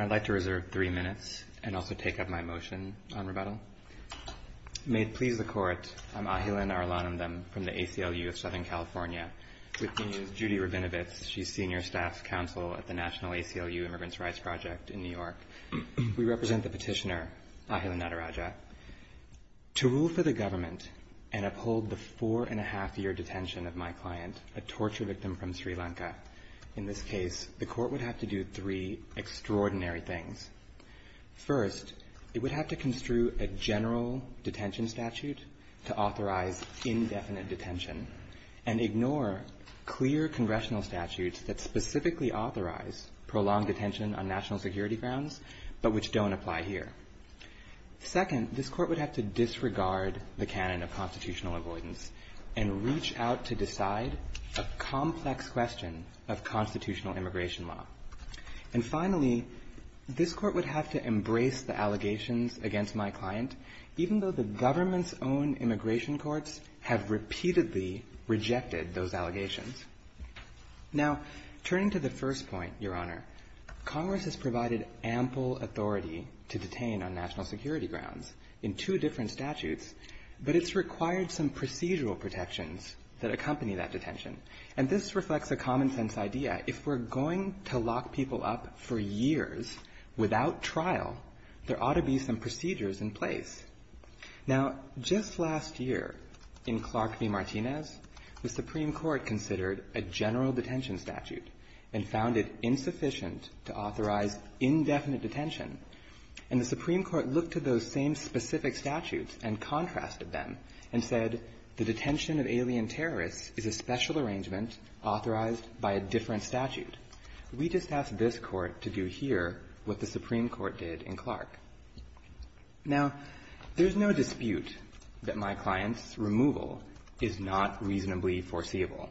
I'd like to reserve three minutes and also take up my motion on rebuttal. May it please the Court, I'm Ahilan Arulanam from the ACLU of Southern California, with me is Judy Rabinowitz. She's Senior Staff Counsel at the National ACLU Immigrants' Rights Project in New York. We represent the petitioner, Ahilan Nadarajah. To rule for the government and uphold the four-and-a-half-year detention of my client, a torture victim from Sri Lanka, in this case, the Court would have to do three extraordinary things. First, it would have to construe a general detention statute to authorize indefinite detention, and ignore clear congressional statutes that specifically authorize prolonged detention on national security grounds but which don't apply here. Second, this Court would have to disregard the canon of constitutional avoidance and reach out to decide a complex question of constitutional immigration law. And finally, this Court would have to embrace the allegations against my client, even though the government's own immigration courts have repeatedly rejected those allegations. Now, turning to the first point, Your Honor, Congress has provided ample authority to detain on national security grounds in two different statutes, but it's required some procedural protections that accompany that detention. And this reflects a common-sense idea. If we're going to lock people up for years without trial, there ought to be some procedures in place. Now, just last year, in Clark v. Martinez, the Supreme Court considered a general detention statute and found it insufficient to authorize indefinite detention. And the Supreme Court looked to those same specific statutes and contrasted them and said, the detention of alien terrorists is a special arrangement authorized by a different statute. We just asked this Court to do here what the Supreme Court did in Clark. Now, there's no dispute that my client's removal is not reasonably foreseeable.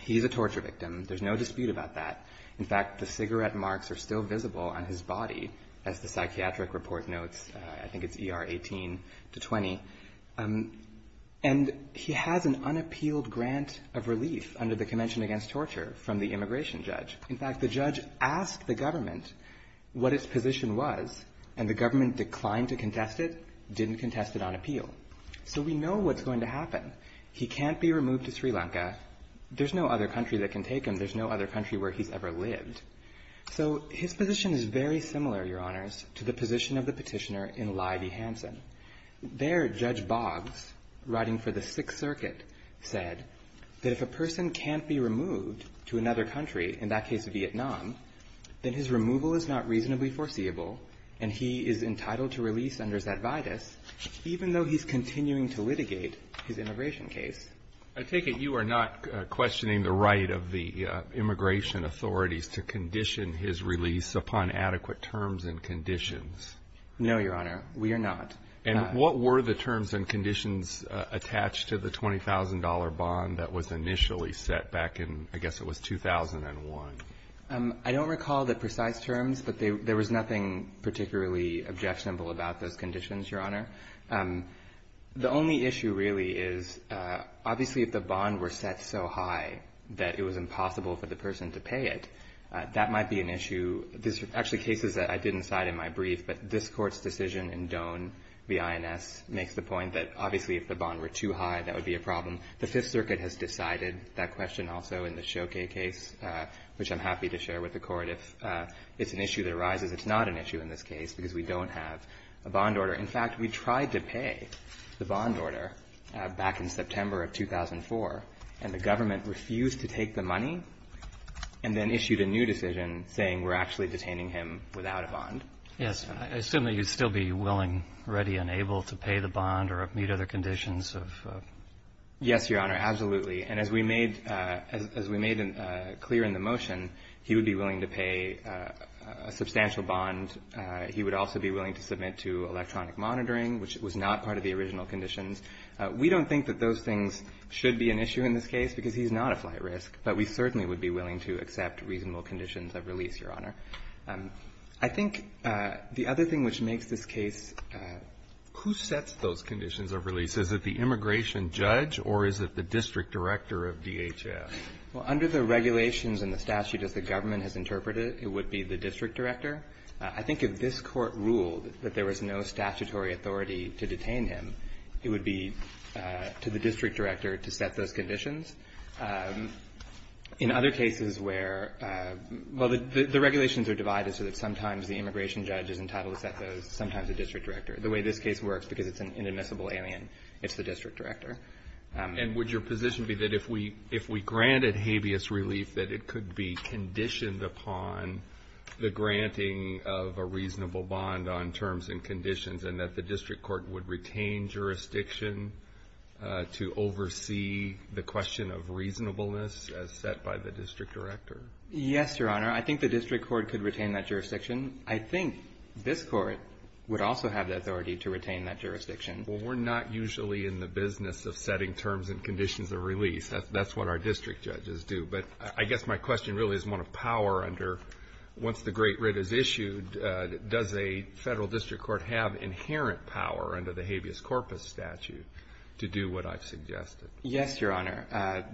He's a torture victim. There's no dispute about that. In fact, the cigarette marks are still visible on his body, as the psychiatric report notes. I think it's ER 18 to 20. And he has an unappealed grant of relief under the Convention Against Torture from the immigration judge. In fact, the judge asked the government what its position was, and the government declined to contest it, didn't contest it on appeal. So we know what's going to happen. He can't be removed to Sri Lanka. There's no other country that can take him. And there's no other country where he's ever lived. So his position is very similar, Your Honors, to the position of the petitioner in Lye v. Hansen. There, Judge Boggs, writing for the Sixth Circuit, said that if a person can't be removed to another country, in that case, Vietnam, then his removal is not reasonably foreseeable, and he is entitled to release under Zet Vitis, even though he's continuing to litigate his immigration case. I take it you are not questioning the right of the immigration authorities to condition his release upon adequate terms and conditions? No, Your Honor. We are not. And what were the terms and conditions attached to the $20,000 bond that was initially set back in, I guess it was 2001? I don't recall the precise terms, but there was nothing particularly objectionable about those conditions, Your Honor. The only issue really is, obviously, if the bond were set so high that it was impossible for the person to pay it, that might be an issue. There's actually cases that I didn't cite in my brief, but this Court's decision in Doane v. INS makes the point that, obviously, if the bond were too high, that would be a problem. The Fifth Circuit has decided that question also in the Shokay case, which I'm happy to share with the Court. If it's an issue that arises, it's not an issue in this case because we don't have a bond order. In fact, we tried to pay the bond order back in September of 2004, and the government refused to take the money and then issued a new decision saying we're actually detaining him without a bond. Yes. I assume that you'd still be willing, ready, and able to pay the bond or meet other conditions of ---- Yes, Your Honor, absolutely. And as we made clear in the motion, he would be willing to pay a substantial bond. He would also be willing to submit to electronic monitoring, which was not part of the original conditions. We don't think that those things should be an issue in this case because he's not a flight risk, but we certainly would be willing to accept reasonable conditions of release, Your Honor. I think the other thing which makes this case ---- Who sets those conditions of release? Is it the immigration judge or is it the district director of DHS? Well, under the regulations and the statute as the government has interpreted it, it would be the district director. I think if this Court ruled that there was no statutory authority to detain him, it would be to the district director to set those conditions. In other cases where ---- well, the regulations are divided so that sometimes the immigration judge is entitled to set those, sometimes the district director. The way this case works, because it's an inadmissible alien, it's the district director. And would your position be that if we granted habeas relief, that it could be conditioned upon the granting of a reasonable bond on terms and conditions, and that the district court would retain jurisdiction to oversee the question of reasonableness as set by the district director? Yes, Your Honor. I think the district court could retain that jurisdiction. I think this Court would also have the authority to retain that jurisdiction. Well, we're not usually in the business of setting terms and conditions of release. That's what our district judges do. But I guess my question really is one of power under once the great writ is issued, does a federal district court have inherent power under the habeas corpus statute to do what I've suggested? Yes, Your Honor.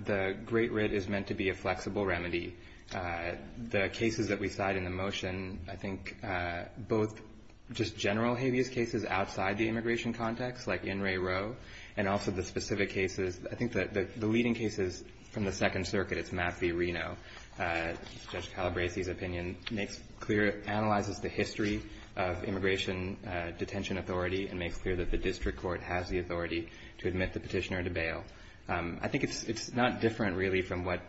The great writ is meant to be a flexible remedy. The cases that we cite in the motion, I think both just general habeas cases outside the immigration context, like In re Roe, and also the specific cases. I think the leading cases from the Second Circuit, it's Mapp v. Reno. Judge Calabresi's opinion makes clear, analyzes the history of immigration detention authority and makes clear that the district court has the authority to admit the petitioner to bail. I think it's not different, really, from what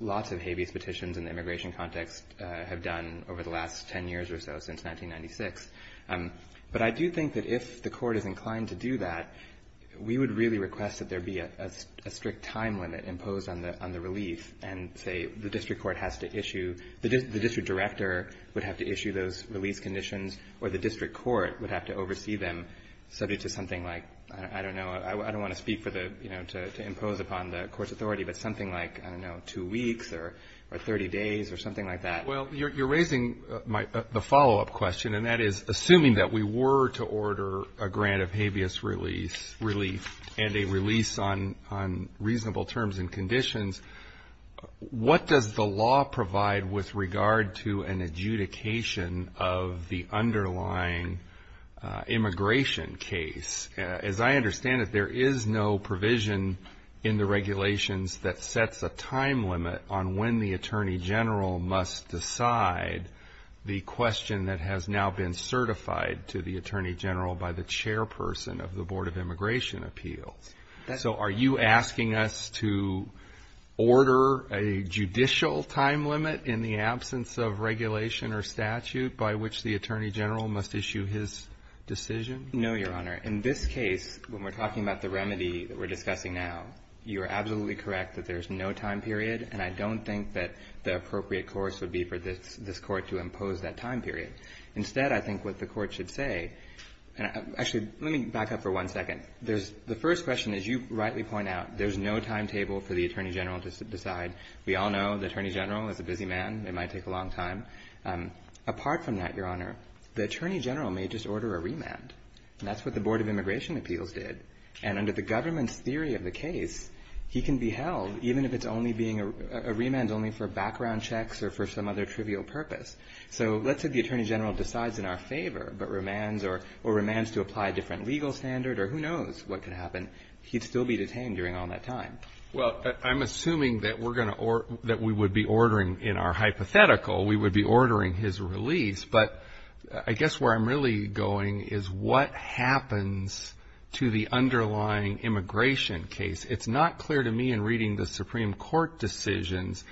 lots of habeas petitions in the immigration context have done over the last 10 years or so, since 1996. But I do think that if the Court is inclined to do that, we would really request that there be a strict time limit imposed on the relief and say the district court has to issue, the district director would have to issue those release conditions or the district court would have to oversee them subject to something like, I don't know, I don't want to speak for the, you know, to impose upon the court's authority, but something like, I don't know, 2 weeks or 30 days or something like that. Well, you're raising the follow-up question, and that is, assuming that we were to order a grant of habeas relief and a release on reasonable terms and conditions, what does the law provide with regard to an adjudication of the underlying immigration case? As I understand it, there is no provision in the regulations that sets a time limit on when the attorney general must decide the question that has now been certified to the chairperson of the Board of Immigration Appeals. So are you asking us to order a judicial time limit in the absence of regulation or statute by which the attorney general must issue his decision? No, Your Honor. In this case, when we're talking about the remedy that we're discussing now, you're absolutely correct that there's no time period, and I don't think that the appropriate course would be for this Court to impose that time period. Instead, I think what the Court should say — actually, let me back up for one second. The first question, as you rightly point out, there's no timetable for the attorney general to decide. We all know the attorney general is a busy man. It might take a long time. Apart from that, Your Honor, the attorney general may just order a remand, and that's what the Board of Immigration Appeals did. And under the government's theory of the case, he can be held, even if it's only being a remand only for background checks or for some other trivial purpose. So let's say the attorney general decides in our favor, but remands or remands to apply a different legal standard, or who knows what could happen. He'd still be detained during all that time. Well, I'm assuming that we're going to — that we would be ordering — in our hypothetical, we would be ordering his release. But I guess where I'm really going is what happens to the underlying immigration case. It's not clear to me in reading the Supreme Court decisions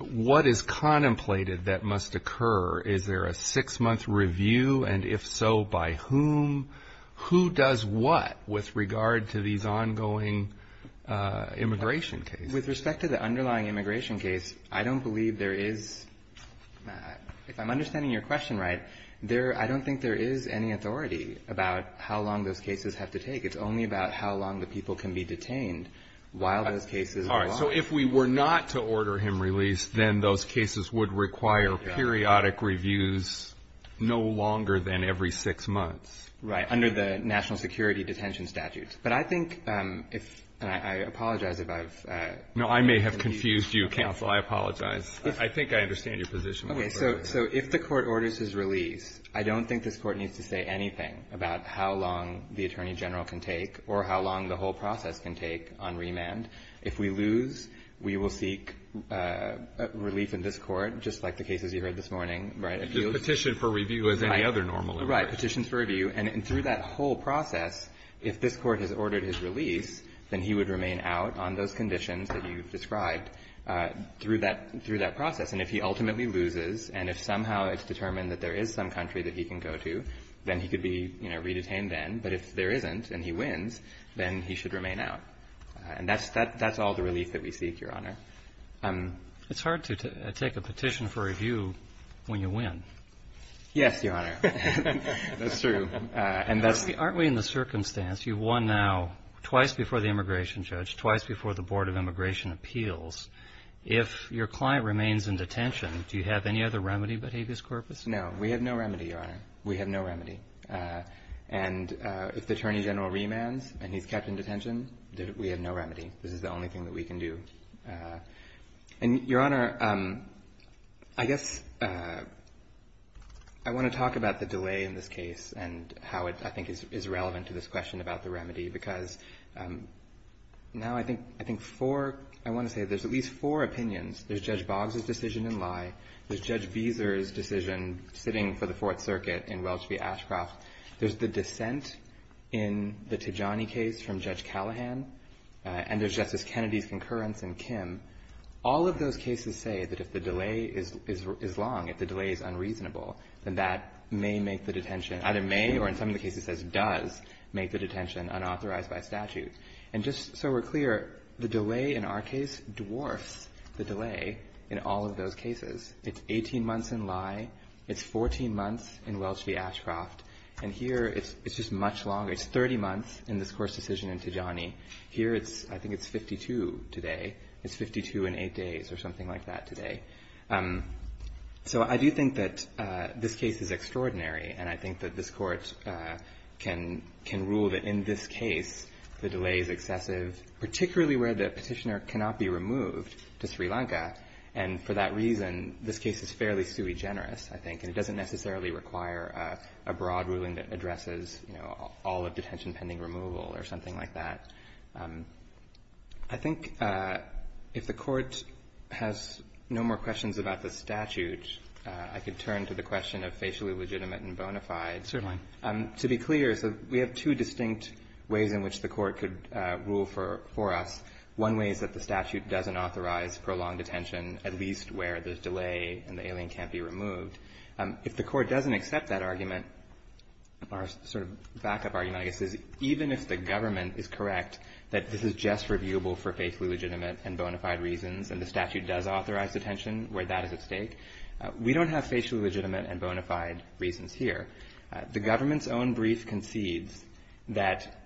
what is contemplated that must occur. Is there a six-month review? And if so, by whom? Who does what with regard to these ongoing immigration cases? With respect to the underlying immigration case, I don't believe there is — if I'm understanding your question right, there — I don't think there is any authority about how long those cases have to take. It's only about how long the people can be detained while those cases go on. All right. So if we were not to order him released, then those cases would require periodic reviews no longer than every six months. Right, under the national security detention statutes. But I think if — and I apologize if I've — I don't know how long the attorney general can take or how long the whole process can take on remand. If we lose, we will seek relief in this court, just like the cases you heard this morning, right? Petition for review as any other normal. Right, petitions for review. And through that whole process, if this court has ordered his release, then he would remain out on those conditions that you've described through that process. And if he ultimately loses, and if somehow it's determined that there is some country that he can go to, then he could be, you know, re-detained then. But if there isn't and he wins, then he should remain out. And that's all the relief that we seek, Your Honor. It's hard to take a petition for review when you win. Yes, Your Honor. That's true. And that's — Well, in that circumstance, you've won now twice before the immigration judge, twice before the Board of Immigration Appeals. If your client remains in detention, do you have any other remedy but habeas corpus? No. We have no remedy, Your Honor. We have no remedy. And if the attorney general remands and he's kept in detention, we have no remedy. This is the only thing that we can do. And, Your Honor, I guess I want to talk about the delay in this case and how it, I think, is relevant to this question about the remedy, because now I think four — I want to say there's at least four opinions. There's Judge Boggs' decision in lie. There's Judge Beezer's decision sitting for the Fourth Circuit in Welch v. Ashcroft. There's the dissent in the Tijani case from Judge Callahan. And there's Justice Kennedy's concurrence in Kim. All of those cases say that if the delay is long, if the delay is unreasonable, then that may make the detention — either may or, in some of the cases, says does make the detention unauthorized by statute. And just so we're clear, the delay in our case dwarfs the delay in all of those cases. It's 18 months in lie. It's 14 months in Welch v. Ashcroft. And here it's just much longer. It's 30 months in this court's decision in Tijani. Here it's — I think it's 52 today. It's 52 and 8 days or something like that today. So I do think that this case is extraordinary. And I think that this court can rule that in this case the delay is excessive, particularly where the petitioner cannot be removed to Sri Lanka. And for that reason, this case is fairly sui generis, I think. And it doesn't necessarily require a broad ruling that addresses, you know, all of detention pending removal or something like that. I think if the court has no more questions about the statute, I could turn to the question of facially legitimate and bona fide. To be clear, we have two distinct ways in which the court could rule for us. One way is that the statute doesn't authorize prolonged detention, at least where there's delay and the alien can't be removed. If the court doesn't accept that argument, our sort of backup argument, I guess, is even if the government is correct, there's no doubt that this is just reviewable for facially legitimate and bona fide reasons. And the statute does authorize detention where that is at stake. We don't have facially legitimate and bona fide reasons here. The government's own brief concedes that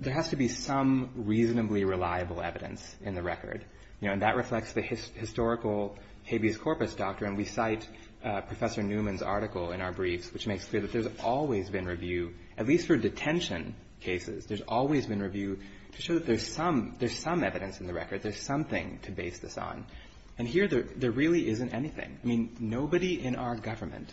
there has to be some reasonably reliable evidence in the record. You know, and that reflects the historical habeas corpus doctrine. We cite Professor Newman's article in our briefs, which makes clear that there's some, there's some evidence in the record, there's something to base this on. And here there really isn't anything. I mean, nobody in our government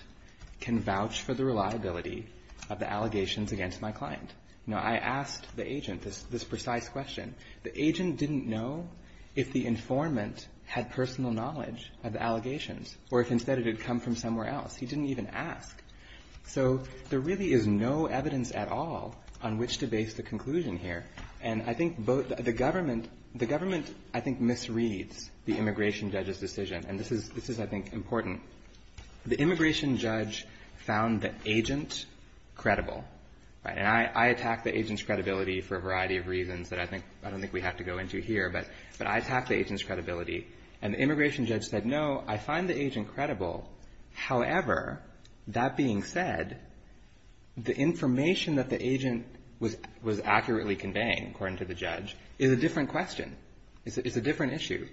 can vouch for the reliability of the allegations against my client. You know, I asked the agent this precise question. The agent didn't know if the informant had personal knowledge of the allegations or if instead it had come from somewhere else. He didn't even ask. So there really is no evidence at all on which to base the case on. The government, I think, misreads the immigration judge's decision. And this is, I think, important. The immigration judge found the agent credible. And I attack the agent's credibility for a variety of reasons that I don't think we have to go into here. But I attack the agent's credibility. And the immigration judge said, no, I find the agent credible. However, that being said, the information that the agent was accurately conveying, according to the judge, is a different question. It's a different issue.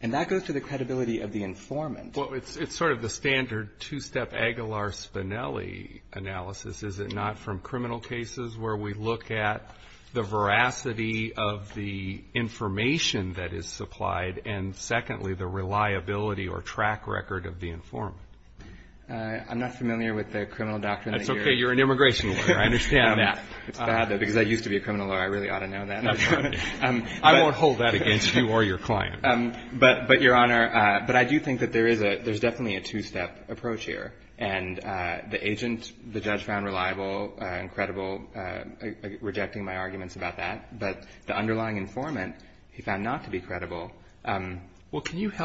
And that goes to the credibility of the informant. Well, it's sort of the standard two-step Aguilar-Spinelli analysis, is it not, from criminal cases where we look at the veracity of the information that is supplied and, secondly, the reliability or track record of the informant. I'm not familiar with the criminal doctrine. That's okay. You're an immigration lawyer. I understand that. It's bad, though, because I used to be a criminal lawyer. I really ought to know that. I won't hold that against you or your client. But, Your Honor, I do think that there is definitely a two-step approach here. And the agent, the judge, found reliable and credible, rejecting my arguments about that. But the underlying informant, he found not to be credible. I think it's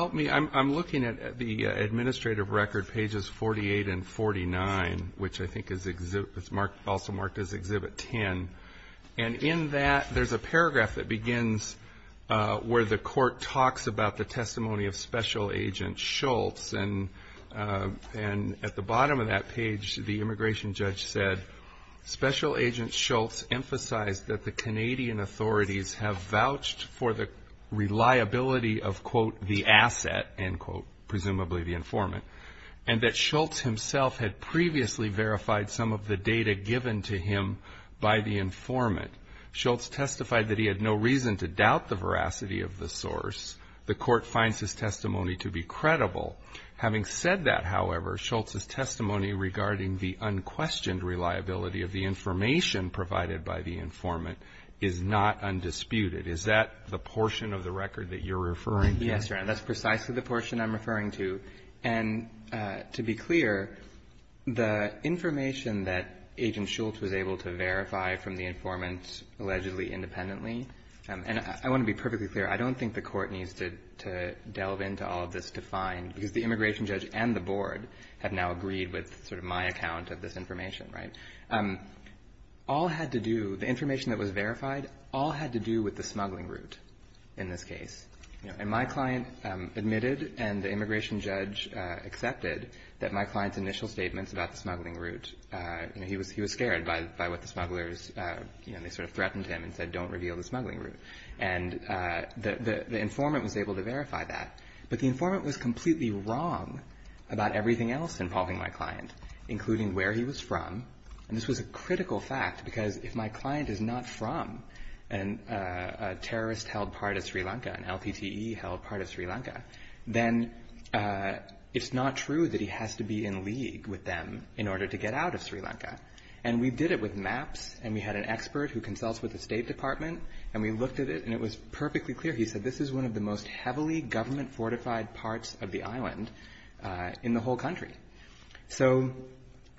also marked as Exhibit 10. And in that, there's a paragraph that begins where the court talks about the testimony of Special Agent Schultz. And at the bottom of that page, the immigration judge said, Special Agent Schultz emphasized that the Canadian authorities have vouched for the reliability of, quote, the asset, end quote, presumably the informant, and that Schultz himself had previously verified some of the data given to him by the informant. Schultz testified that he had no reason to doubt the veracity of the source. The Court finds his testimony to be credible. Having said that, however, Schultz's testimony regarding the unquestioned reliability of the information provided by the informant is not undisputed. Is that the portion of the record that you're referring to? Yes, Your Honor. That's precisely the portion I'm referring to. And to be clear, the information that Agent Schultz was able to verify from the informant allegedly independently, and I want to be perfectly clear, I don't think the Court needs to delve into all of this to find, because the immigration judge and the board have now agreed with sort of my account of this information, right? All had to do, the information that was verified, all had to do with the smuggling route in this case. And my client admitted and the immigration judge accepted that my client's initial statements about the smuggling route, he was scared by what the smugglers, they sort of threatened him and said, don't reveal the smuggling route. And the informant was able to verify that. But the informant was completely wrong about everything else involving my client, including where he was from. And this was a critical fact, because if my client is not from a terrorist-held part of Sri Lanka, an LPTE-held part of Sri Lanka, then it's not true that he has to be in league with them in order to get out of Sri Lanka. And we did it with maps, and we had an expert who consults with the State Department, and we looked at it, and it was perfectly clear. He said, this is one of the most heavily government-fortified parts of the island in the whole country. So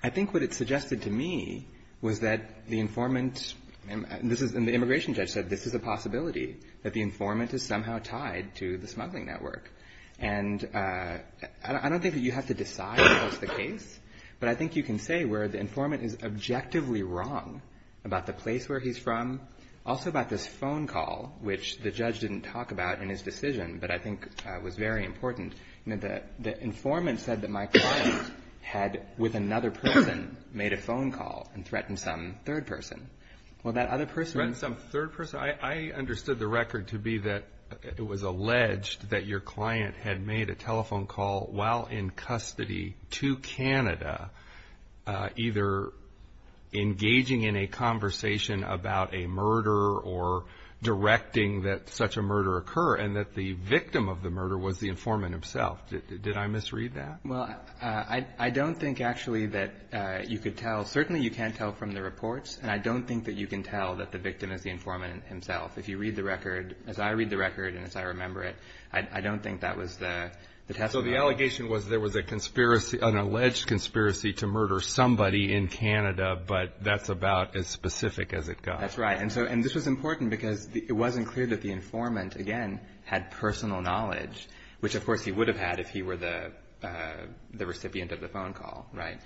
I think what it suggested to me was that the informant, and the immigration judge said, this is a possibility, that the informant is somehow tied to the smuggling network. And I don't think that you have to decide what's the case, but I think you can say where the informant is objectively wrong about the place where he's from, also about this phone call, which the judge didn't talk about in his decision, but I think was very important. The informant said that my client had, with another person, made a phone call and threatened some third person. Threatened some third person? I understood the record to be that it was alleged that your client had made a telephone call while in custody to Canada, either engaging in a conversation about a murder or directing that such a murder occur, and that the victim of the murder was the informant himself. Did I misread that? Well, I don't think actually that you could tell. Well, certainly you can tell from the reports, and I don't think that you can tell that the victim is the informant himself. If you read the record, as I read the record and as I remember it, I don't think that was the testimony. So the allegation was there was an alleged conspiracy to murder somebody in Canada, but that's about as specific as it got. That's right. And this was important because it wasn't clear that the informant, again, had personal knowledge, which of course he would have had if he were the recipient of the phone call, right?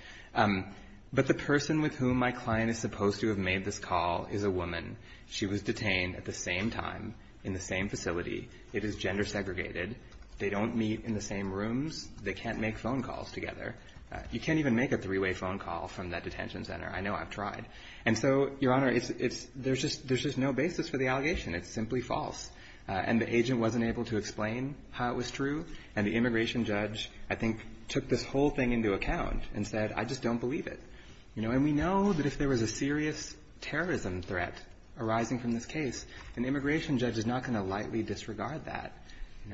But the person with whom my client is supposed to have made this call is a woman. She was detained at the same time in the same facility. It is gender segregated. They don't meet in the same rooms. They can't make phone calls together. You can't even make a three-way phone call from that detention center. I know I've tried. And so, Your Honor, there's just no basis for the allegation. It's simply false. And we took this whole thing into account and said, I just don't believe it. And we know that if there was a serious terrorism threat arising from this case, an immigration judge is not going to lightly disregard that.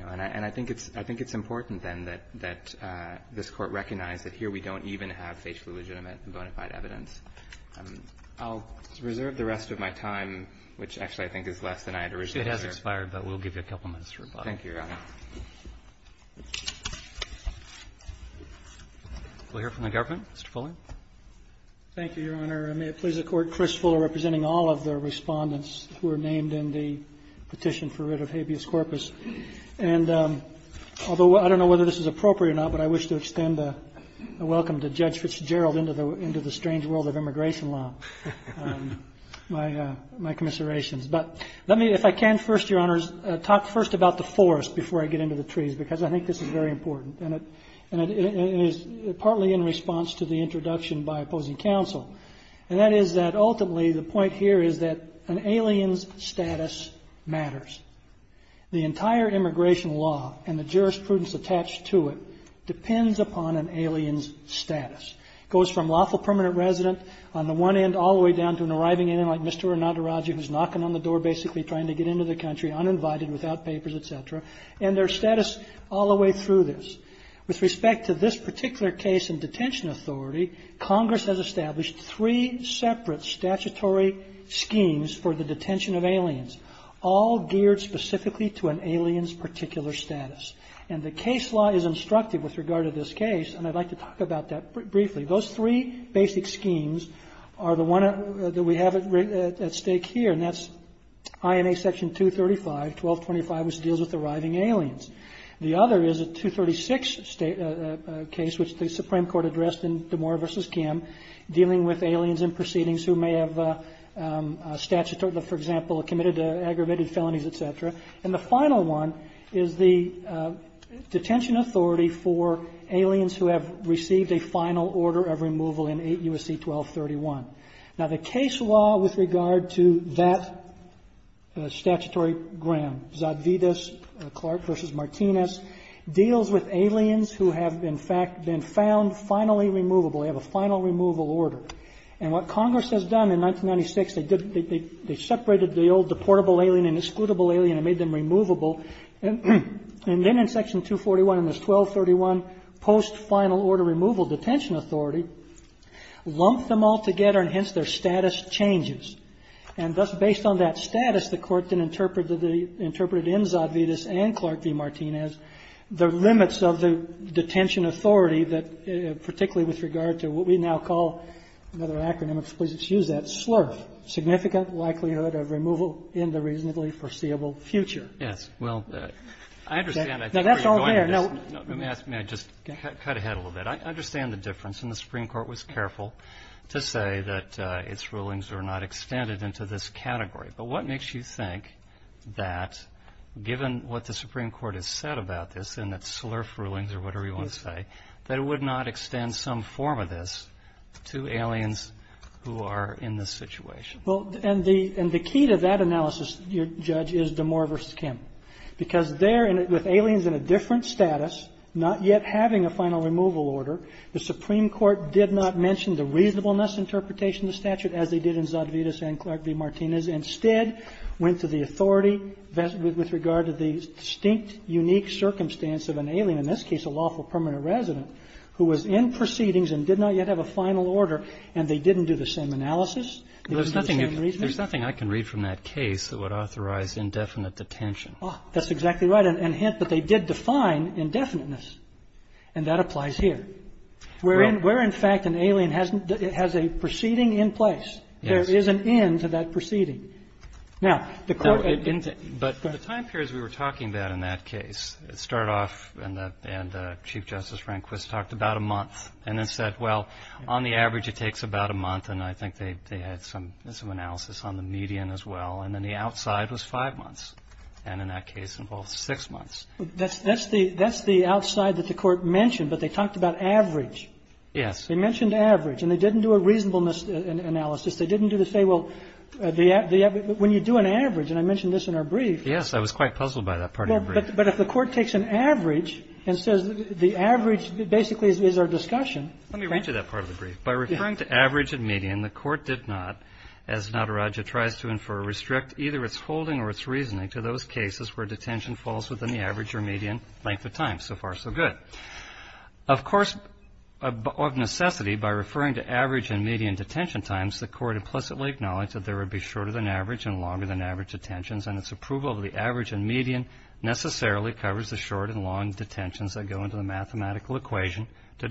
And I think it's important, then, that this Court recognize that here we don't even have facially legitimate and bona fide evidence. I'll reserve the rest of my time, which actually I think is less than I had originally reserved. Roberts. It has expired, but we'll give you a couple minutes for rebuttal. Thank you, Your Honor. We'll hear from the government. Mr. Fuller. Thank you, Your Honor. And may it please the Court, Chris Fuller representing all of the respondents who were named in the petition for writ of habeas corpus. And although I don't know whether this is appropriate or not, but I wish to extend a welcome to Judge Fitzgerald into the strange world of immigration law, my commiserations. But let me, if I can, first, Your Honors, talk first about the forest before I get into the trees, because I think this is very important. And it is partly in response to the introduction by opposing counsel. And that is that ultimately the point here is that an alien's status matters. The entire immigration law and the jurisprudence attached to it depends upon an alien's status. It goes from lawful permanent resident on the one end all the way down to an arriving on the door basically trying to get into the country, uninvited, without papers, et cetera, and their status all the way through this. With respect to this particular case in detention authority, Congress has established three separate statutory schemes for the detention of aliens, all geared specifically to an alien's particular status. And the case law is instructive with regard to this case, and I'd like to talk about that briefly. Those three basic schemes are the one that we have at stake here, and that's INA Section 235, 1225, which deals with arriving aliens. The other is a 236 case, which the Supreme Court addressed in DeMoor v. Kim, dealing with aliens in proceedings who may have statutory, for example, committed aggravated felonies, et cetera. And the final one is the detention authority for aliens who have received a final order of removal in 8 U.S.C. 1231. Now, the case law with regard to that statutory gram, Zadvydas, Clark v. Martinez, deals with aliens who have, in fact, been found finally removable. They have a final removal order. And what Congress has done in 1996, they separated the old deportable alien and excludable alien and made them removable. And then in Section 241, in this 1231 post-final order removal detention authority, lumped them all together, and hence their status changes. And thus, based on that status, the Court then interpreted in Zadvydas and Clark v. Martinez the limits of the detention authority that, particularly with regard to what we now call another acronym, excuse that, SLRF, significant likelihood of removal in the reasonably foreseeable future. Roberts. Yes. Well, I understand that. Now, that's all there. No. Let me ask. May I just cut ahead a little bit? I understand the difference. And the Supreme Court was careful to say that its rulings were not extended into this category. But what makes you think that, given what the Supreme Court has said about this and its SLRF rulings or whatever you want to say, that it would not extend some form of this to aliens who are in this situation? Well, and the key to that analysis, Judge, is Damore v. Kim. Because there, with aliens in a different status, not yet having a final removal order, the Supreme Court did not mention the reasonableness interpretation of the statute as they did in Zadvydas and Clark v. Martinez, instead went to the authority with regard to the distinct, unique circumstance of an alien, in this case a lawful permanent resident, who was in proceedings and did not yet have a final removal order. And the Supreme Court did not mention the reasonableness interpretation of the statute as they did in Zadvydas and Clark v. Martinez, instead went to the authority with regard to the distinct, unique circumstance of an alien, in this case a lawful permanent resident, who was in proceedings and did not yet have a final removal order. And the Supreme Court did not mention the reasonableness interpretation of the statute as they did in Zadvydas and Clark v. Martinez, instead went to the authority with regard to the distinct, unique circumstance of an alien, in this case a lawful permanent resident, who was in proceedings and did not yet have a final removal order. And the Supreme Court did not mention the reasonableness interpretation of the statute as they did in Zadvydas and Clark v. Martinez, instead went to the authority with regard to the distinct, unique circumstance of an alien, in this case a lawful permanent resident, who was in proceedings and did not yet have a final removal order. And the Supreme Court did not, as Natarajah tries to infer, restrict either its holding or its reasoning to those cases where detention falls within the average or median length of time. So far, so good. Of course, of necessity, by referring to average and median detention times, the Court implicitly acknowledged that there would be shorter than average and longer than average detentions, and its approval of the average and median necessarily covers the short and long detentions that go into the mathematical equation to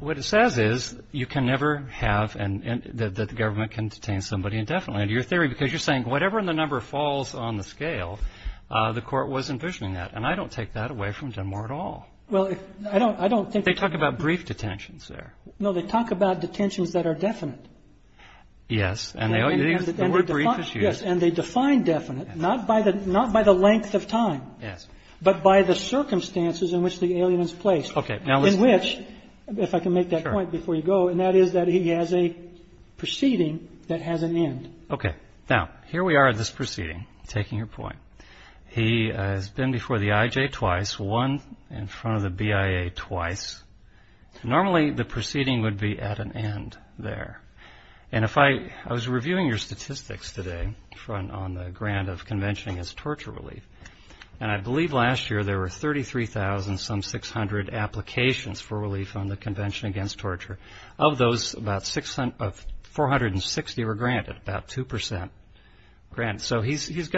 what it says is you can never have and that the government can detain somebody indefinitely, under your theory, because you're saying whatever the number falls on the scale, the Court was envisioning that. And I don't take that away from Dunmore at all. They talk about brief detentions there. No, they talk about detentions that are definite. Yes. And they define definite, not by the length of time. Yes. But by the circumstances in which the alien is placed. Okay. In which, if I can make that point before you go, and that is that he has a proceeding that has an end. Okay. Now, here we are at this proceeding, taking your point. He has been before the IJ twice, won in front of the BIA twice. Normally, the proceeding would be at an end there. And if I was reviewing your statistics today on the grant of conventioning as torture relief, and I believe last year there were 33,000, some 600 applications for relief on the convention against torture. Of those, about 460 were granted, about 2%. So he's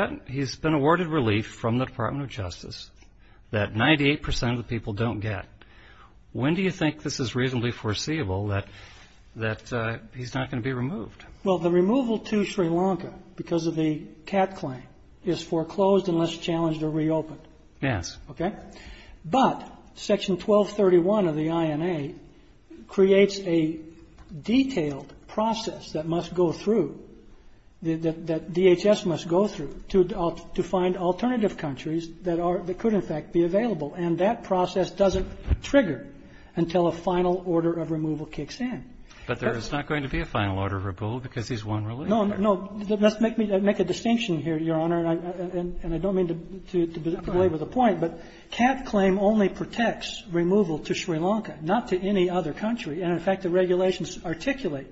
been awarded relief from the Department of Justice that 98% of the people don't get. When do you think this is reasonably foreseeable that he's not going to be removed? Well, the removal to Sri Lanka, because of the CAT claim, is foreclosed unless challenged or reopened. Yes. Okay. But Section 1231 of the INA creates a detailed process that must go through, that DHS must go through, to find alternative countries that could, in fact, be available. And that process doesn't trigger until a final order of removal kicks in. But there is not going to be a final order of removal because he's won relief. No, no. Let's make a distinction here, Your Honor, and I don't mean to belabor the point. But CAT claim only protects removal to Sri Lanka, not to any other country. And, in fact, the regulations articulate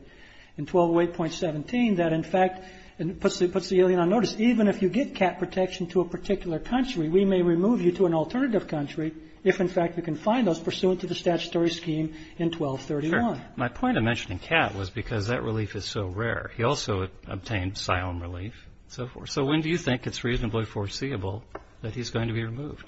in 1208.17 that, in fact, it puts the alien on notice. Even if you get CAT protection to a particular country, we may remove you to an alternative country if, in fact, we can find those pursuant to the statutory scheme in 1231. My point in mentioning CAT was because that relief is so rare. He also obtained Sion relief and so forth. So when do you think it's reasonably foreseeable that he's going to be removed?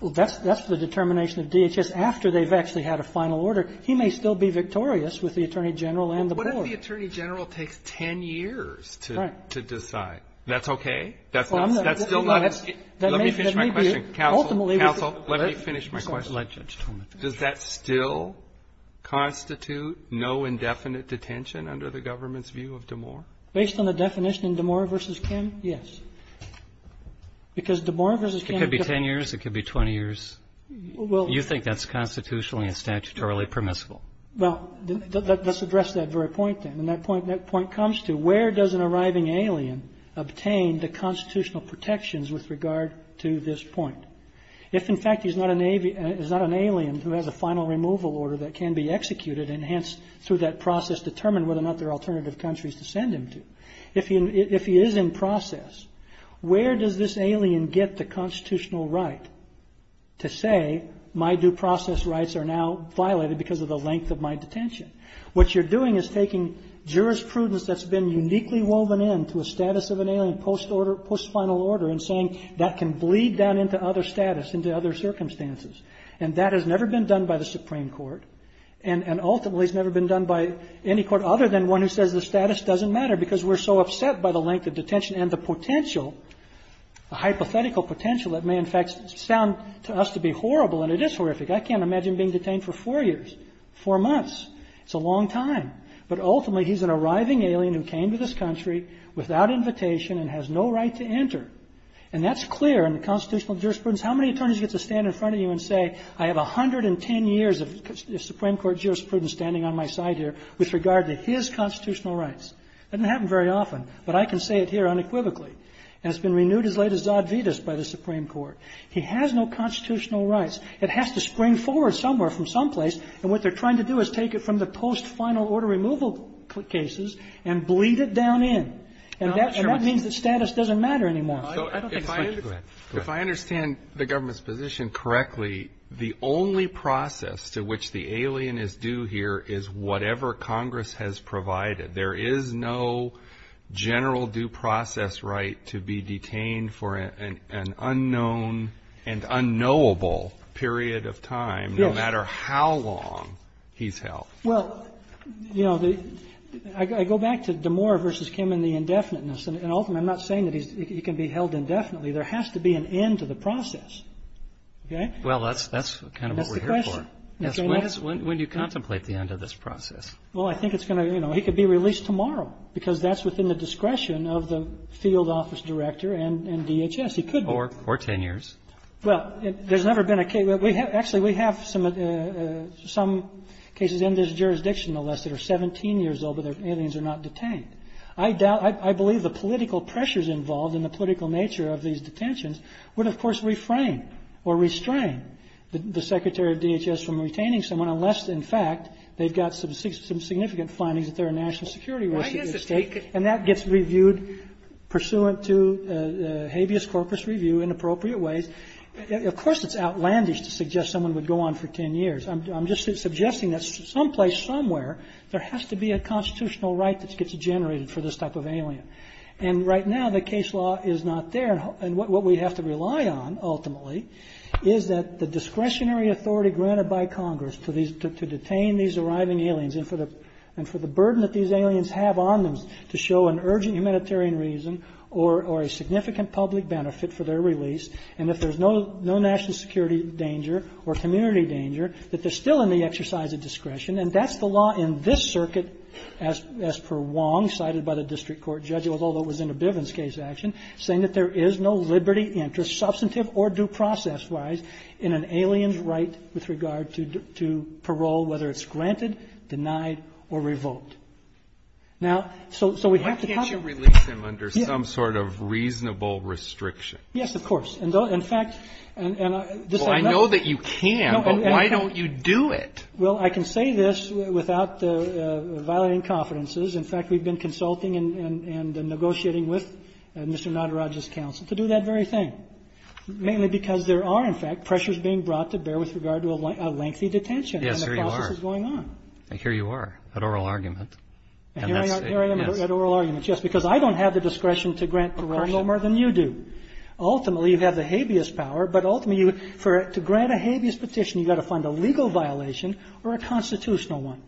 Well, that's the determination of DHS. After they've actually had a final order, he may still be victorious with the Attorney General and the board. But what if the Attorney General takes 10 years to decide? That's okay? That's still not an issue? Let me finish my question. Counsel. Counsel. Let me finish my question. Let Judge Tolman finish. Does that still constitute no indefinite detention under the government's view of Damore? Based on the definition in Damore v. Kim, yes. Because Damore v. Kim could be 10 years. It could be 20 years. You think that's constitutionally and statutorily permissible. Well, let's address that very point then. And that point comes to where does an arriving alien obtain the constitutional protections with regard to this point? If, in fact, he's not an alien who has a final removal order that can be executed and, hence, through that process, determine whether or not there are alternative countries to send him to. If he is in process, where does this alien get the constitutional right to say, my due process rights are now violated because of the length of my detention? What you're doing is taking jurisprudence that's been uniquely woven into a status of an alien post-final order and saying that can bleed down into other status, into other circumstances. And that has never been done by the Supreme Court. And ultimately, it's never been done by any court other than one who says the status doesn't matter because we're so upset by the length of detention and the potential, the hypothetical potential that may, in fact, sound to us to be horrible. And it is horrific. I can't imagine being detained for four years, four months. It's a long time. But ultimately, he's an arriving alien who came to this country without invitation and has no right to enter. And that's clear in the constitutional jurisprudence. How many attorneys get to stand in front of you and say, I have 110 years of Supreme Court jurisprudence standing on my side here with regard to his constitutional rights? That doesn't happen very often, but I can say it here unequivocally. And it's been renewed as late as Zadvitas by the Supreme Court. He has no constitutional rights. It has to spring forward somewhere from someplace. And what they're trying to do is take it from the post-final order removal cases and bleed it down in. And that means that status doesn't matter anymore. If I understand the government's position correctly, the only process to which the alien is due here is whatever Congress has provided. There is no general due process right to be detained for an unknown and unknowable period of time, no matter how long he's held. Well, you know, I go back to DeMoor versus Kim and the indefiniteness. And ultimately, I'm not saying that he can be held indefinitely. There has to be an end to the process. Okay? Well, that's kind of what we're here for. When do you contemplate the end of this process? Well, I think it's going to be released tomorrow, because that's within the discretion of the field office director and DHS. Yes, he could be. Or ten years. Well, there's never been a case. Actually, we have some cases in this jurisdiction, unless they're 17 years old but their aliens are not detained. I believe the political pressures involved in the political nature of these detentions would, of course, refrain or restrain the secretary of DHS from retaining someone, unless, in fact, they've got some significant findings that there are national security risks at stake. And that gets reviewed pursuant to habeas corpus review in appropriate ways. Of course, it's outlandish to suggest someone would go on for ten years. I'm just suggesting that someplace, somewhere, there has to be a constitutional right that gets generated for this type of alien. And right now, the case law is not there. And what we have to rely on, ultimately, is that the discretionary authority granted by Congress to detain these arriving aliens and for the burden that these aliens have on them to show an urgent humanitarian reason or a significant public benefit for their release, and if there's no national security danger or community danger, that they're still in the exercise of discretion. And that's the law in this circuit as per Wong, cited by the district court judge, although it was in a Bivens case action, saying that there is no liberty, interest, substantive or due process-wise, in an alien's right with regard to parole, whether it's granted, denied or revoked. Now, so we have to talk about- Breyer, why can't you release them under some sort of reasonable restriction? Yes, of course. In fact- Well, I know that you can, but why don't you do it? Well, I can say this without violating confidences. In fact, we've been consulting and negotiating with Mr. Nataraj's counsel to do that very thing, mainly because there are, in fact, pressures being brought to bear with regard to a lengthy detention. Yes, here you are. And the process is going on. Here you are, at oral argument. Here I am at oral argument, yes, because I don't have the discretion to grant parole no more than you do. Ultimately, you have the habeas power, but ultimately to grant a habeas petition you've got to find a legal violation or a constitutional one.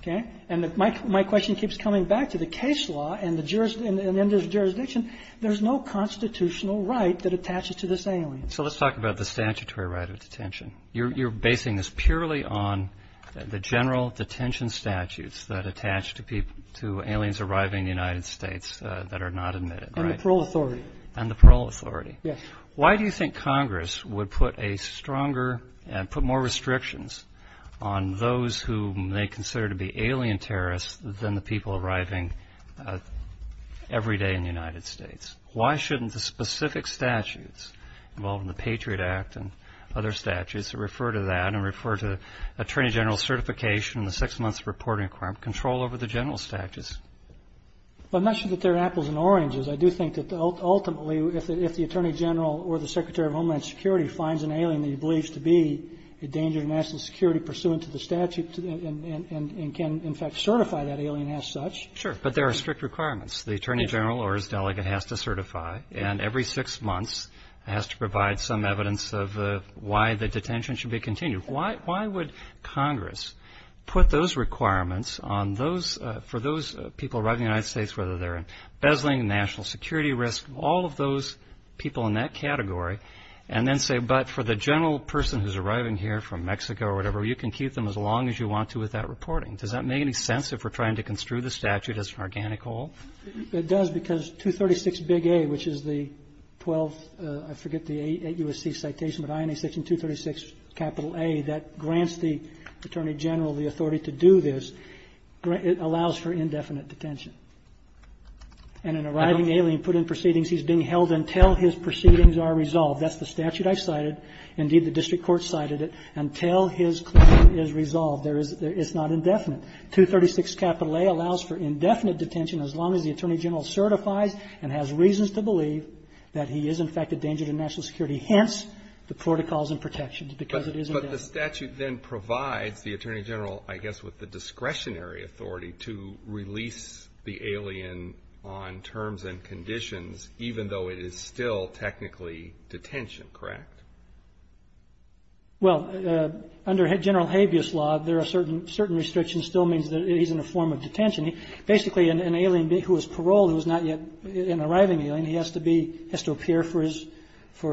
Okay? And my question keeps coming back to the case law and in this jurisdiction, there's no constitutional right that attaches to this alien. So let's talk about the statutory right of detention. You're basing this purely on the general detention statutes that attach to aliens arriving in the United States that are not admitted, right? And the parole authority. And the parole authority. Yes. Why do you think Congress would put a stronger, put more restrictions on those whom they consider to be alien terrorists than the people arriving every day in the United States? Why shouldn't the specific statutes involved in the Patriot Act and other statutes that refer to that and refer to attorney general certification and the six months of reporting requirement control over the general statutes? Well, I'm not sure that they're apples and oranges. I do think that ultimately if the attorney general or the secretary of homeland security finds an alien that he believes to be a danger to national security pursuant to the statute and can, in fact, certify that alien as such. Sure. But there are strict requirements. The attorney general or his delegate has to certify, and every six months has to provide some evidence of why the detention should be continued. Why would Congress put those requirements on those, for those people arriving in the United States, whether they're in bezzling national security risk, all of those people in that category, and then say, but for the general person who's arriving here from Mexico or whatever, you can keep them as long as you want to with that reporting. Does that make any sense if we're trying to construe the statute as an organic whole? It does because 236 big A, which is the 12th, I forget the 8 U.S.C. citation, but INA section 236 capital A that grants the attorney general the authority to do this. It allows for indefinite detention. And an arriving alien put in proceedings, he's being held until his proceedings are resolved. That's the statute I've cited. Indeed, the district court cited it. Until his claim is resolved, there is not indefinite. 236 capital A allows for indefinite detention as long as the attorney general certifies and has reasons to believe that he is in fact a danger to national security, hence the protocols and protections, because it is indefinite. But the statute then provides the attorney general, I guess, with the discretionary authority to release the alien on terms and conditions, even though it is still technically detention, correct? Well, under General Habeas Law, there are certain restrictions still means that he's in a form of detention. Basically, an alien who is paroled who is not yet an arriving alien, he has to be, has to appear for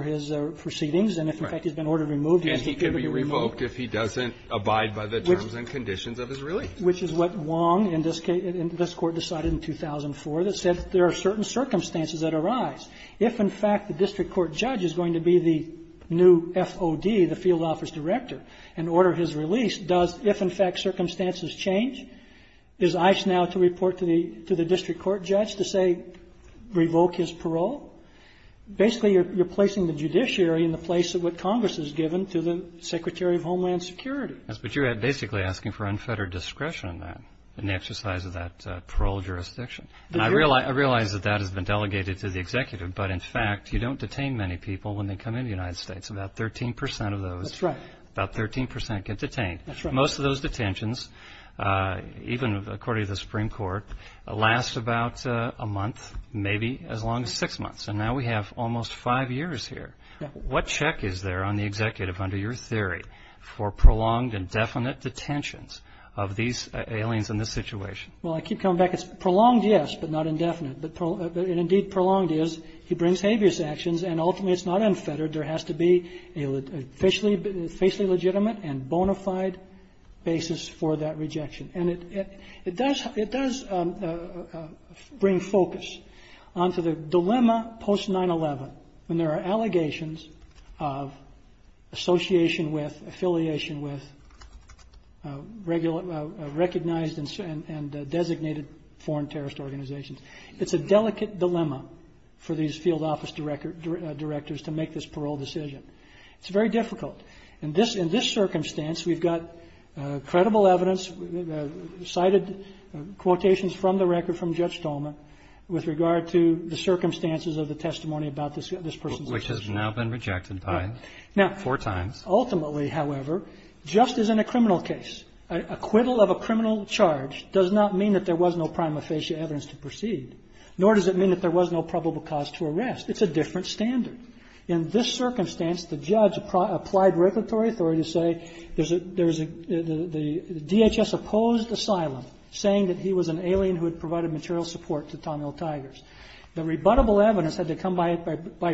his proceedings. And if, in fact, he's been ordered removed, he has to be removed. Right. And he can be revoked if he doesn't abide by the terms and conditions of his release. Which is what Wong in this case, in this Court decided in 2004 that said there are certain circumstances that arise. If, in fact, the district court judge is going to be the new FOD, the field office director, and order his release, does if, in fact, circumstances change, is Eich now to report to the district court judge to say revoke his parole? Basically, you're placing the judiciary in the place of what Congress has given to the Secretary of Homeland Security. Yes, but you're basically asking for unfettered discretion in that, in the exercise of that parole jurisdiction. I realize that that has been delegated to the executive, but, in fact, you don't detain many people when they come into the United States. About 13% of those. That's right. About 13% get detained. That's right. Most of those detentions, even according to the Supreme Court, last about a month, maybe as long as six months. And now we have almost five years here. What check is there on the executive under your theory for prolonged and definite detentions of these aliens in this situation? Well, I keep coming back. It's prolonged, yes, but not indefinite. And, indeed, prolonged is he brings habeas actions, and, ultimately, it's not unfettered. There has to be a facially legitimate and bona fide basis for that rejection. And it does bring focus onto the dilemma post-9-11 when there are allegations of association with, affiliation with, recognized and designated foreign terrorist organizations. It's a delicate dilemma for these field office directors to make this parole decision. It's very difficult. In this circumstance, we've got credible evidence, cited quotations from the record from Judge Tolman with regard to the circumstances of the testimony about this person's decision. Which has now been rejected by four times. Ultimately, however, just as in a criminal case, acquittal of a criminal charge does not mean that there was no prima facie evidence to proceed, nor does it mean that there was no probable cause to arrest. It's a different standard. In this circumstance, the judge applied regulatory authority to say the DHS opposed asylum, saying that he was an alien who had provided material support to Tommy O'Tigers. The rebuttable evidence had to come by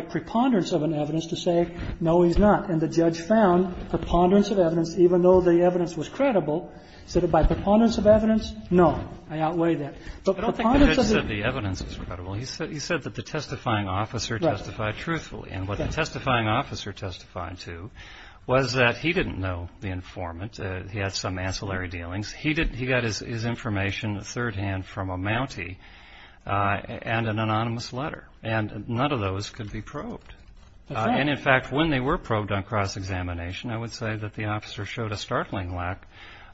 preponderance of an evidence to say, no, he's not. And the judge found preponderance of evidence, even though the evidence was credible, said that by preponderance of evidence, no, I outweigh that. I don't think the judge said the evidence was credible. He said that the testifying officer testified truthfully. And what the testifying officer testified to was that he didn't know the informant. He had some ancillary dealings. He got his information third-hand from a Mountie and an anonymous letter. And none of those could be probed. And, in fact, when they were probed on cross-examination, I would say that the officer showed a startling lack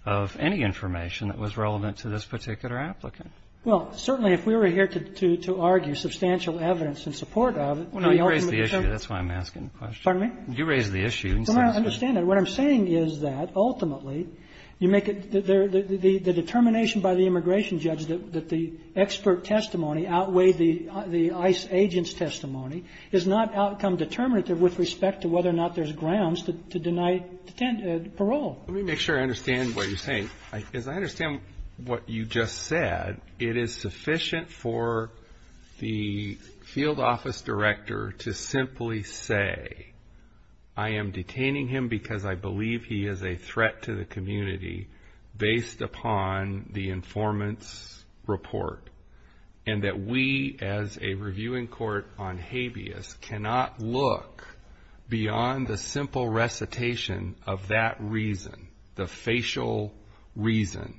of any information that was relevant to this particular applicant. Well, certainly if we were here to argue substantial evidence in support of it, the ultimate concern was the fact that the testifying officer testified truthfully. Well, no, you raised the issue. That's why I'm asking the question. Pardon me? You raised the issue. Well, I understand that. What I'm saying is that, ultimately, you make it the determination by the immigration judge that the expert testimony outweighed the ICE agent's testimony is not outcome determinative with respect to whether or not there's grounds to deny parole. Let me make sure I understand what you're saying. As I understand what you just said, it is sufficient for the field office director to simply say, I am detaining him because I believe he is a threat to the community based upon the informant's report, and that we, as a reviewing court on habeas, cannot look beyond the simple recitation of that reason, the facial reason,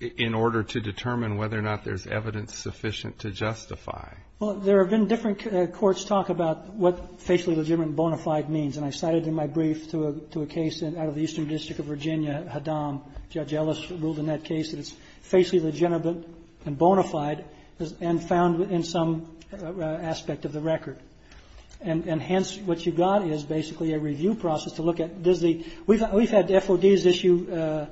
in order to determine whether or not there's evidence sufficient to justify. Well, there have been different courts talk about what facially legitimate bona fide means, and I cited in my brief to a case out of the Eastern District of Virginia, Haddam. Judge Ellis ruled in that case that it's facially legitimate and bona fide and found in some aspect of the record. And hence, what you've got is basically a review process to look at. We've had FODs issue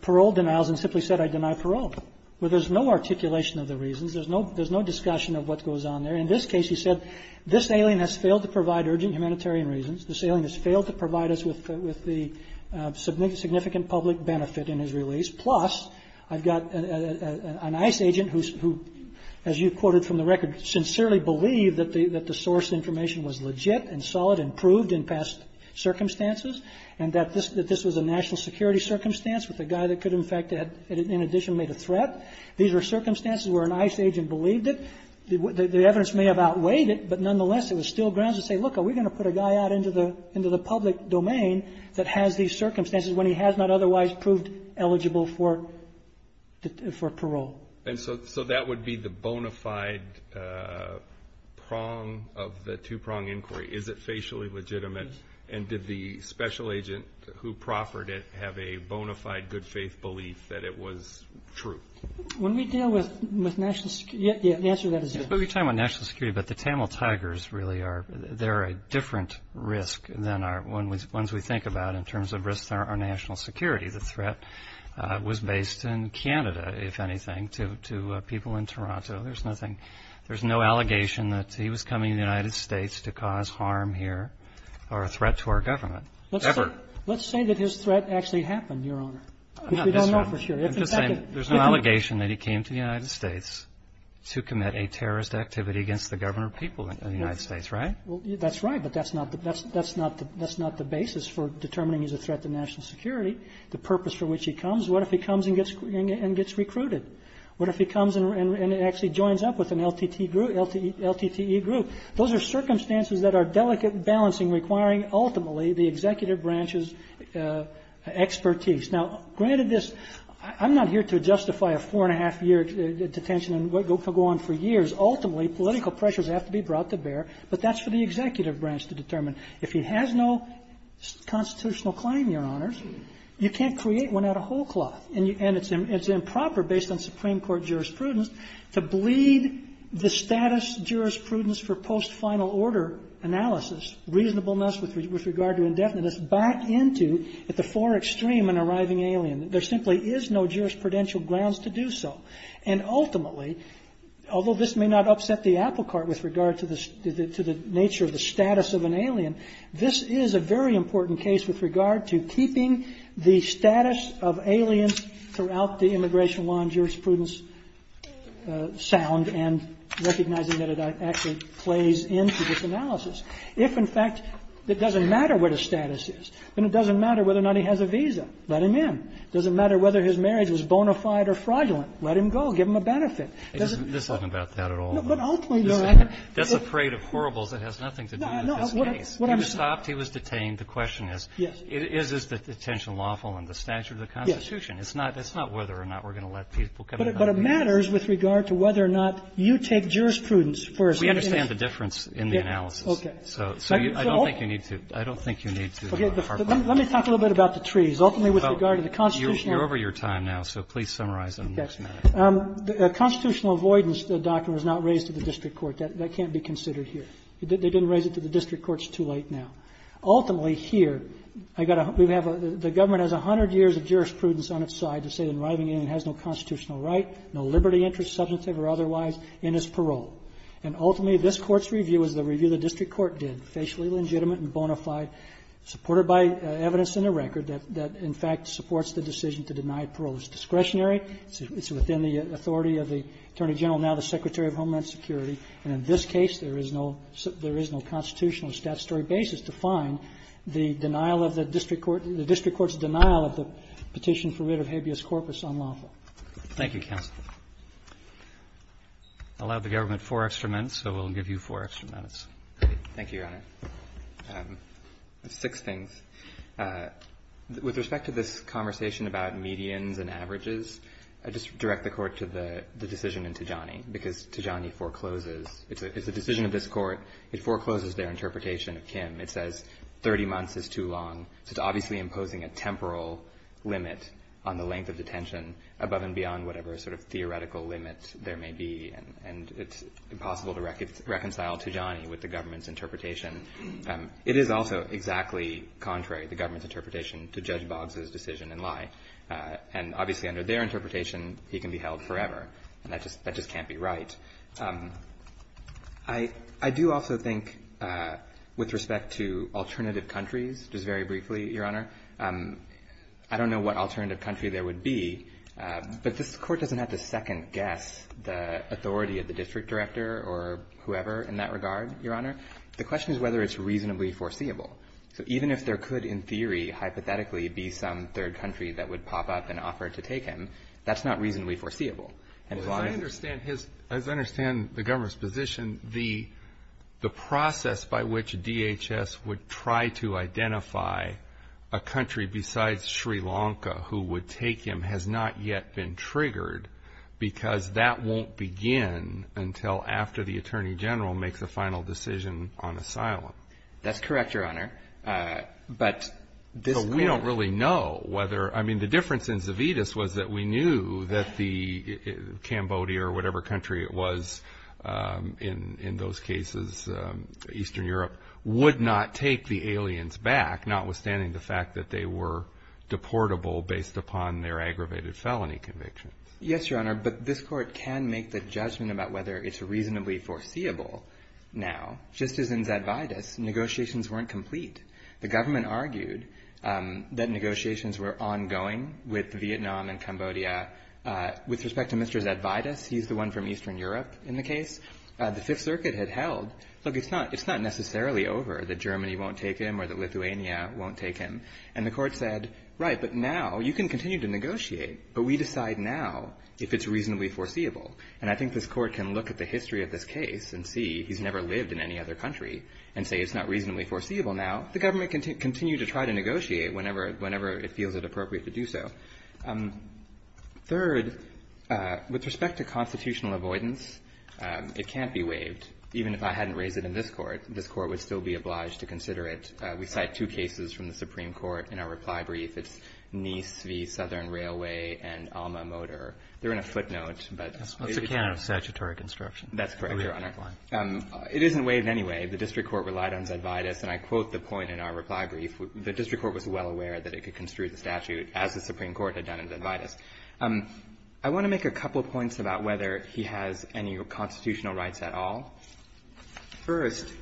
parole denials and simply said, I deny parole. Well, there's no articulation of the reasons. There's no discussion of what goes on there. In this case, he said, this alien has failed to provide urgent humanitarian reasons. This alien has failed to provide us with the significant public benefit in his release. Plus, I've got an ICE agent who, as you quoted from the record, sincerely believed that the source information was legit and solid and proved in past circumstances, and that this was a national security circumstance with a guy that could, in addition, have made a threat. These were circumstances where an ICE agent believed it. The evidence may have outweighed it, but nonetheless, it was still grounds to say, look, are we going to put a guy out into the public domain that has these circumstances when he has not otherwise proved eligible for parole? And so that would be the bona fide prong of the two-prong inquiry. Is it facially legitimate? And did the special agent who proffered it have a bona fide good faith belief that it was true? When we deal with national security, the answer to that is yes. But we're talking about national security, but the Tamil Tigers really are a different risk than our ones we think about in terms of risks to our national security. The threat was based in Canada, if anything, to people in Toronto. There's nothing – there's no allegation that he was coming to the United States to cause harm here or a threat to our government, ever. Let's say that his threat actually happened, Your Honor. I'm not saying that. We don't know for sure. I'm just saying there's no allegation that he came to the United States to commit a terrorist activity against the government or people of the United States, right? That's right, but that's not the basis for determining he's a threat to national security, the purpose for which he comes. What if he comes and gets recruited? What if he comes and actually joins up with an LTTE group? Those are circumstances that are delicate and balancing, requiring ultimately the executive branch's expertise. Now, granted this – I'm not here to justify a four-and-a-half-year detention and go on for years. Ultimately, political pressures have to be brought to bear, but that's for the executive branch to determine. If he has no constitutional claim, Your Honors, you can't create one out of whole cloth. And it's improper, based on Supreme Court jurisprudence, to bleed the status jurisprudence for post-final order analysis, reasonableness with regard to indefiniteness, back into at the fore extreme an arriving alien. There simply is no jurisprudential grounds to do so. And ultimately, although this may not upset the apple cart with regard to the nature of the status of an alien, this is a very important case with regard to keeping the status of aliens throughout the immigration law and jurisprudence sound and recognizing that it actually plays into this analysis. If, in fact, it doesn't matter what his status is, then it doesn't matter whether or not he has a visa. Let him in. It doesn't matter whether his marriage was bona fide or fraudulent. Let him go. Give him a benefit. It doesn't – This isn't about that at all. No, but ultimately – That's a parade of horribles. It has nothing to do with this case. He was stopped. He was detained. The question is, is this detention lawful in the statute of the Constitution? Yes. It's not whether or not we're going to let people come in. But it matters with regard to whether or not you take jurisprudence for a – We understand the difference in the analysis. Okay. So I don't think you need to – I don't think you need to – Okay. Let me talk a little bit about the trees. Ultimately, with regard to the Constitution – You're over your time now, so please summarize in the next minute. Okay. The constitutional avoidance doctrine was not raised to the district court. That can't be considered here. They didn't raise it to the district courts too late now. Ultimately, here, I got a – we have a – the government has 100 years of jurisprudence on its side to say that an arriving alien has no constitutional right, no liberty, interest, substantive or otherwise, in his parole. And ultimately, this Court's review is the review the district court did, facially legitimate and bona fide, supported by evidence in the record that, in fact, supports the decision to deny parole. It's discretionary. It's within the authority of the Attorney General, now the Secretary of Homeland Security. And in this case, there is no constitutional statutory basis to find the denial of the district court – the district court's denial of the petition for rid of habeas corpus unlawful. Thank you, counsel. I'll allow the government four extra minutes, so we'll give you four extra minutes. Thank you, Your Honor. Six things. With respect to this conversation about medians and averages, I'd just direct the Court to the decision in Tijani, because Tijani forecloses. It's a decision of this Court. It forecloses their interpretation of Kim. It says 30 months is too long. So it's obviously imposing a temporal limit on the length of detention above and beyond whatever sort of theoretical limit there may be. And it's impossible to reconcile Tijani with the government's interpretation. It is also exactly contrary, the government's interpretation, to Judge Boggs' decision in Lai. And obviously, under their interpretation, he can be held forever. And that just can't be right. I do also think, with respect to alternative countries, just very briefly, Your Honor, I don't know what alternative country there would be, but this Court doesn't have to second-guess the authority of the district director or whoever in that regard, Your Honor. The question is whether it's reasonably foreseeable. So even if there could, in theory, hypothetically, be some third country that would pop up and offer to take him, that's not reasonably foreseeable. And as long as the government's position, the process by which DHS would try to identify a country besides Sri Lanka who would take him has not yet been triggered, because that won't begin until after the Attorney General makes a final decision on asylum. That's correct, Your Honor. But this Court... So we don't really know whether... I mean, the difference in Zavitas was that we knew that Cambodia or whatever country it was in those cases, Eastern Europe, would not take the aliens back, notwithstanding the fact that they were deportable based upon their aggravated felony convictions. Yes, Your Honor, but this Court can make the judgment about whether it's reasonably foreseeable now. Just as in Zavitas, negotiations weren't complete. The government argued that negotiations were ongoing with Vietnam and Cambodia. With respect to Mr. Zavitas, he's the one from Eastern Europe in the case, the Fifth Circuit had held, look, it's not necessarily over that Germany won't take him or that Lithuania won't take him. And the Court said, right, but now you can continue to negotiate, but we decide now if it's reasonably foreseeable. And I think this Court can look at the history of this case and see he's never lived in any other country and say it's not reasonably foreseeable now. The government can continue to try to negotiate whenever it feels it appropriate to do so. Third, with respect to constitutional avoidance, it can't be waived, even if I hadn't raised it in this Court. This Court would still be obliged to consider it. We cite two cases from the Supreme Court in our reply brief. It's Nice v. Southern Railway and Alma-Motor. They're in a footnote, but it's a kind of statutory construction. That's correct, Your Honor. It isn't waived anyway. The district court relied on Zavitas. And I quote the point in our reply brief. The district court was well aware that it could construe the statute as the Supreme Court had done in Zavitas. I want to make a couple points about whether he has any constitutional rights at all. First,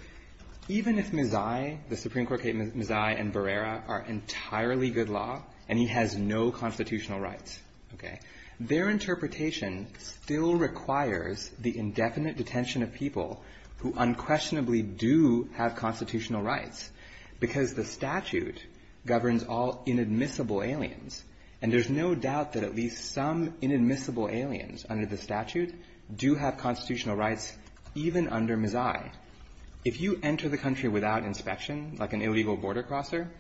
even if Mazzai, the Supreme Court case, Mazzai and Barrera are entirely good law and he has no constitutional rights, okay, their interpretation still requires the indefinite detention of people who unquestionably do have constitutional rights because the statute governs all inadmissible aliens. And there's no doubt that at least some inadmissible aliens under the statute do have constitutional rights, even under Mazzai. If you enter the country without inspection, like an illegal border crosser,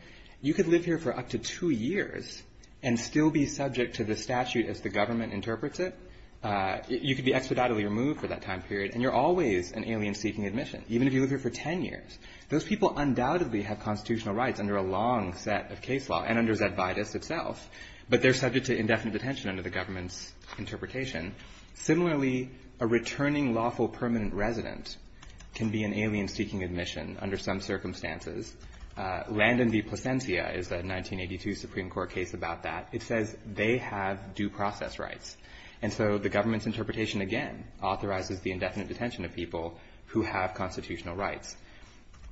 you could live here for up to two years and still be subject to the statute as the government interprets it. You could be expeditiously removed for that time period. And you're always an alien seeking admission, even if you live here for ten years. Those people undoubtedly have constitutional rights under a long set of case law and under Zavitas itself. But they're subject to indefinite detention under the government's interpretation. Similarly, a returning lawful permanent resident can be an alien seeking admission under some circumstances. Landon v. Plasencia is a 1982 Supreme Court case about that. It says they have due process rights. And so the government's interpretation, again, authorizes the indefinite detention of people who have constitutional rights.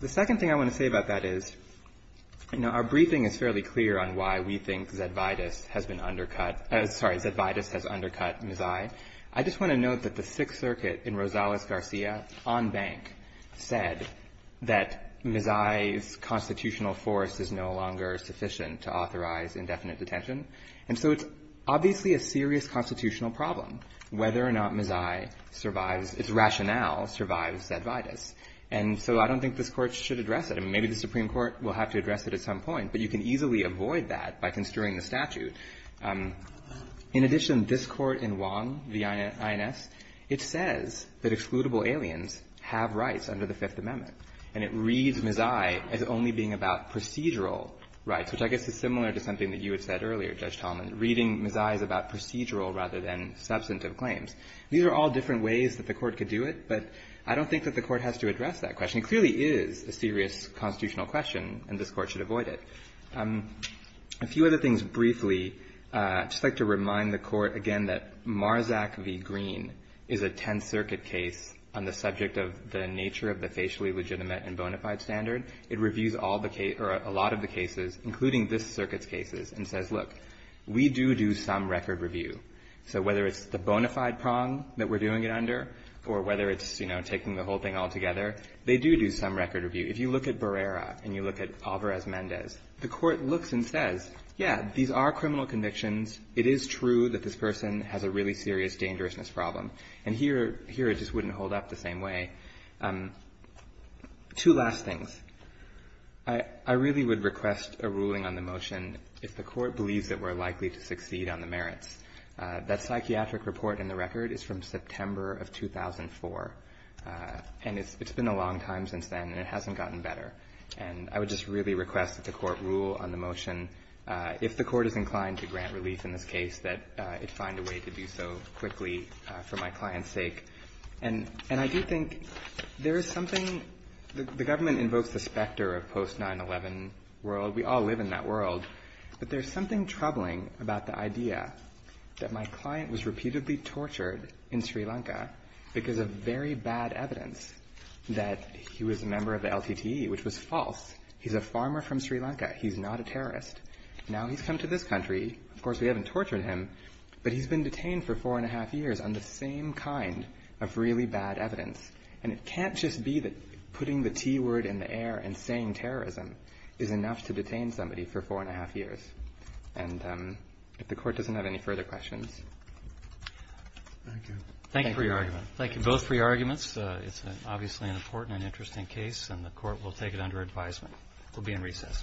The second thing I want to say about that is, you know, our briefing is fairly clear on why we think Zavitas has been undercut. Sorry, Zavitas has undercut Mazzai. I just want to note that the Sixth Circuit in Rosales-Garcia, on bank, said that Mazzai's constitutional force is no longer sufficient to authorize indefinite detention. And so it's obviously a serious constitutional problem whether or not Mazzai survives, its rationale survives Zavitas. And so I don't think this Court should address it. I mean, maybe the Supreme Court will have to address it at some point, but you can easily avoid that by construing the statute. In addition, this Court in Wong v. INS, it says that excludable aliens have rights under the Fifth Amendment. And it reads Mazzai as only being about procedural rights, which I guess is similar to something that you had said earlier, Judge Tallman, reading Mazzai as about procedural rather than substantive claims. These are all different ways that the Court could do it, but I don't think that the Court has to address that question. It clearly is a serious constitutional question, and this Court should avoid it. A few other things briefly. I'd just like to remind the Court again that Marzack v. Green is a Tenth Circuit case on the subject of the nature of the facially legitimate and bona fide standard. It reviews all the cases or a lot of the cases, including this Circuit's cases, and says, look, we do do some record review. So whether it's the bona fide prong that we're doing it under or whether it's, you do do some record review. If you look at Barrera and you look at Alvarez-Mendez, the Court looks and says, yeah, these are criminal convictions. It is true that this person has a really serious dangerousness problem. And here it just wouldn't hold up the same way. Two last things. I really would request a ruling on the motion if the Court believes that we're likely to succeed on the merits. That psychiatric report in the record is from September of 2004. And it's been a long time since then and it hasn't gotten better. And I would just really request that the Court rule on the motion. If the Court is inclined to grant relief in this case, that it find a way to do so quickly for my client's sake. And I do think there is something, the government invokes the specter of post-9-11 world. We all live in that world. But there's something troubling about the idea that my client was repeatedly tortured in Sri Lanka because of very bad evidence that he was a member of the LTTE, which was false. He's a farmer from Sri Lanka. He's not a terrorist. Now he's come to this country. Of course, we haven't tortured him. But he's been detained for four and a half years on the same kind of really bad evidence. And it can't just be that putting the T word in the air and saying terrorism is enough to detain somebody for four and a half years. And if the Court doesn't have any further questions. Thank you. Thank you for your argument. Thank you both for your arguments. It's obviously an important and interesting case and the Court will take it under advisement. We'll be in recess.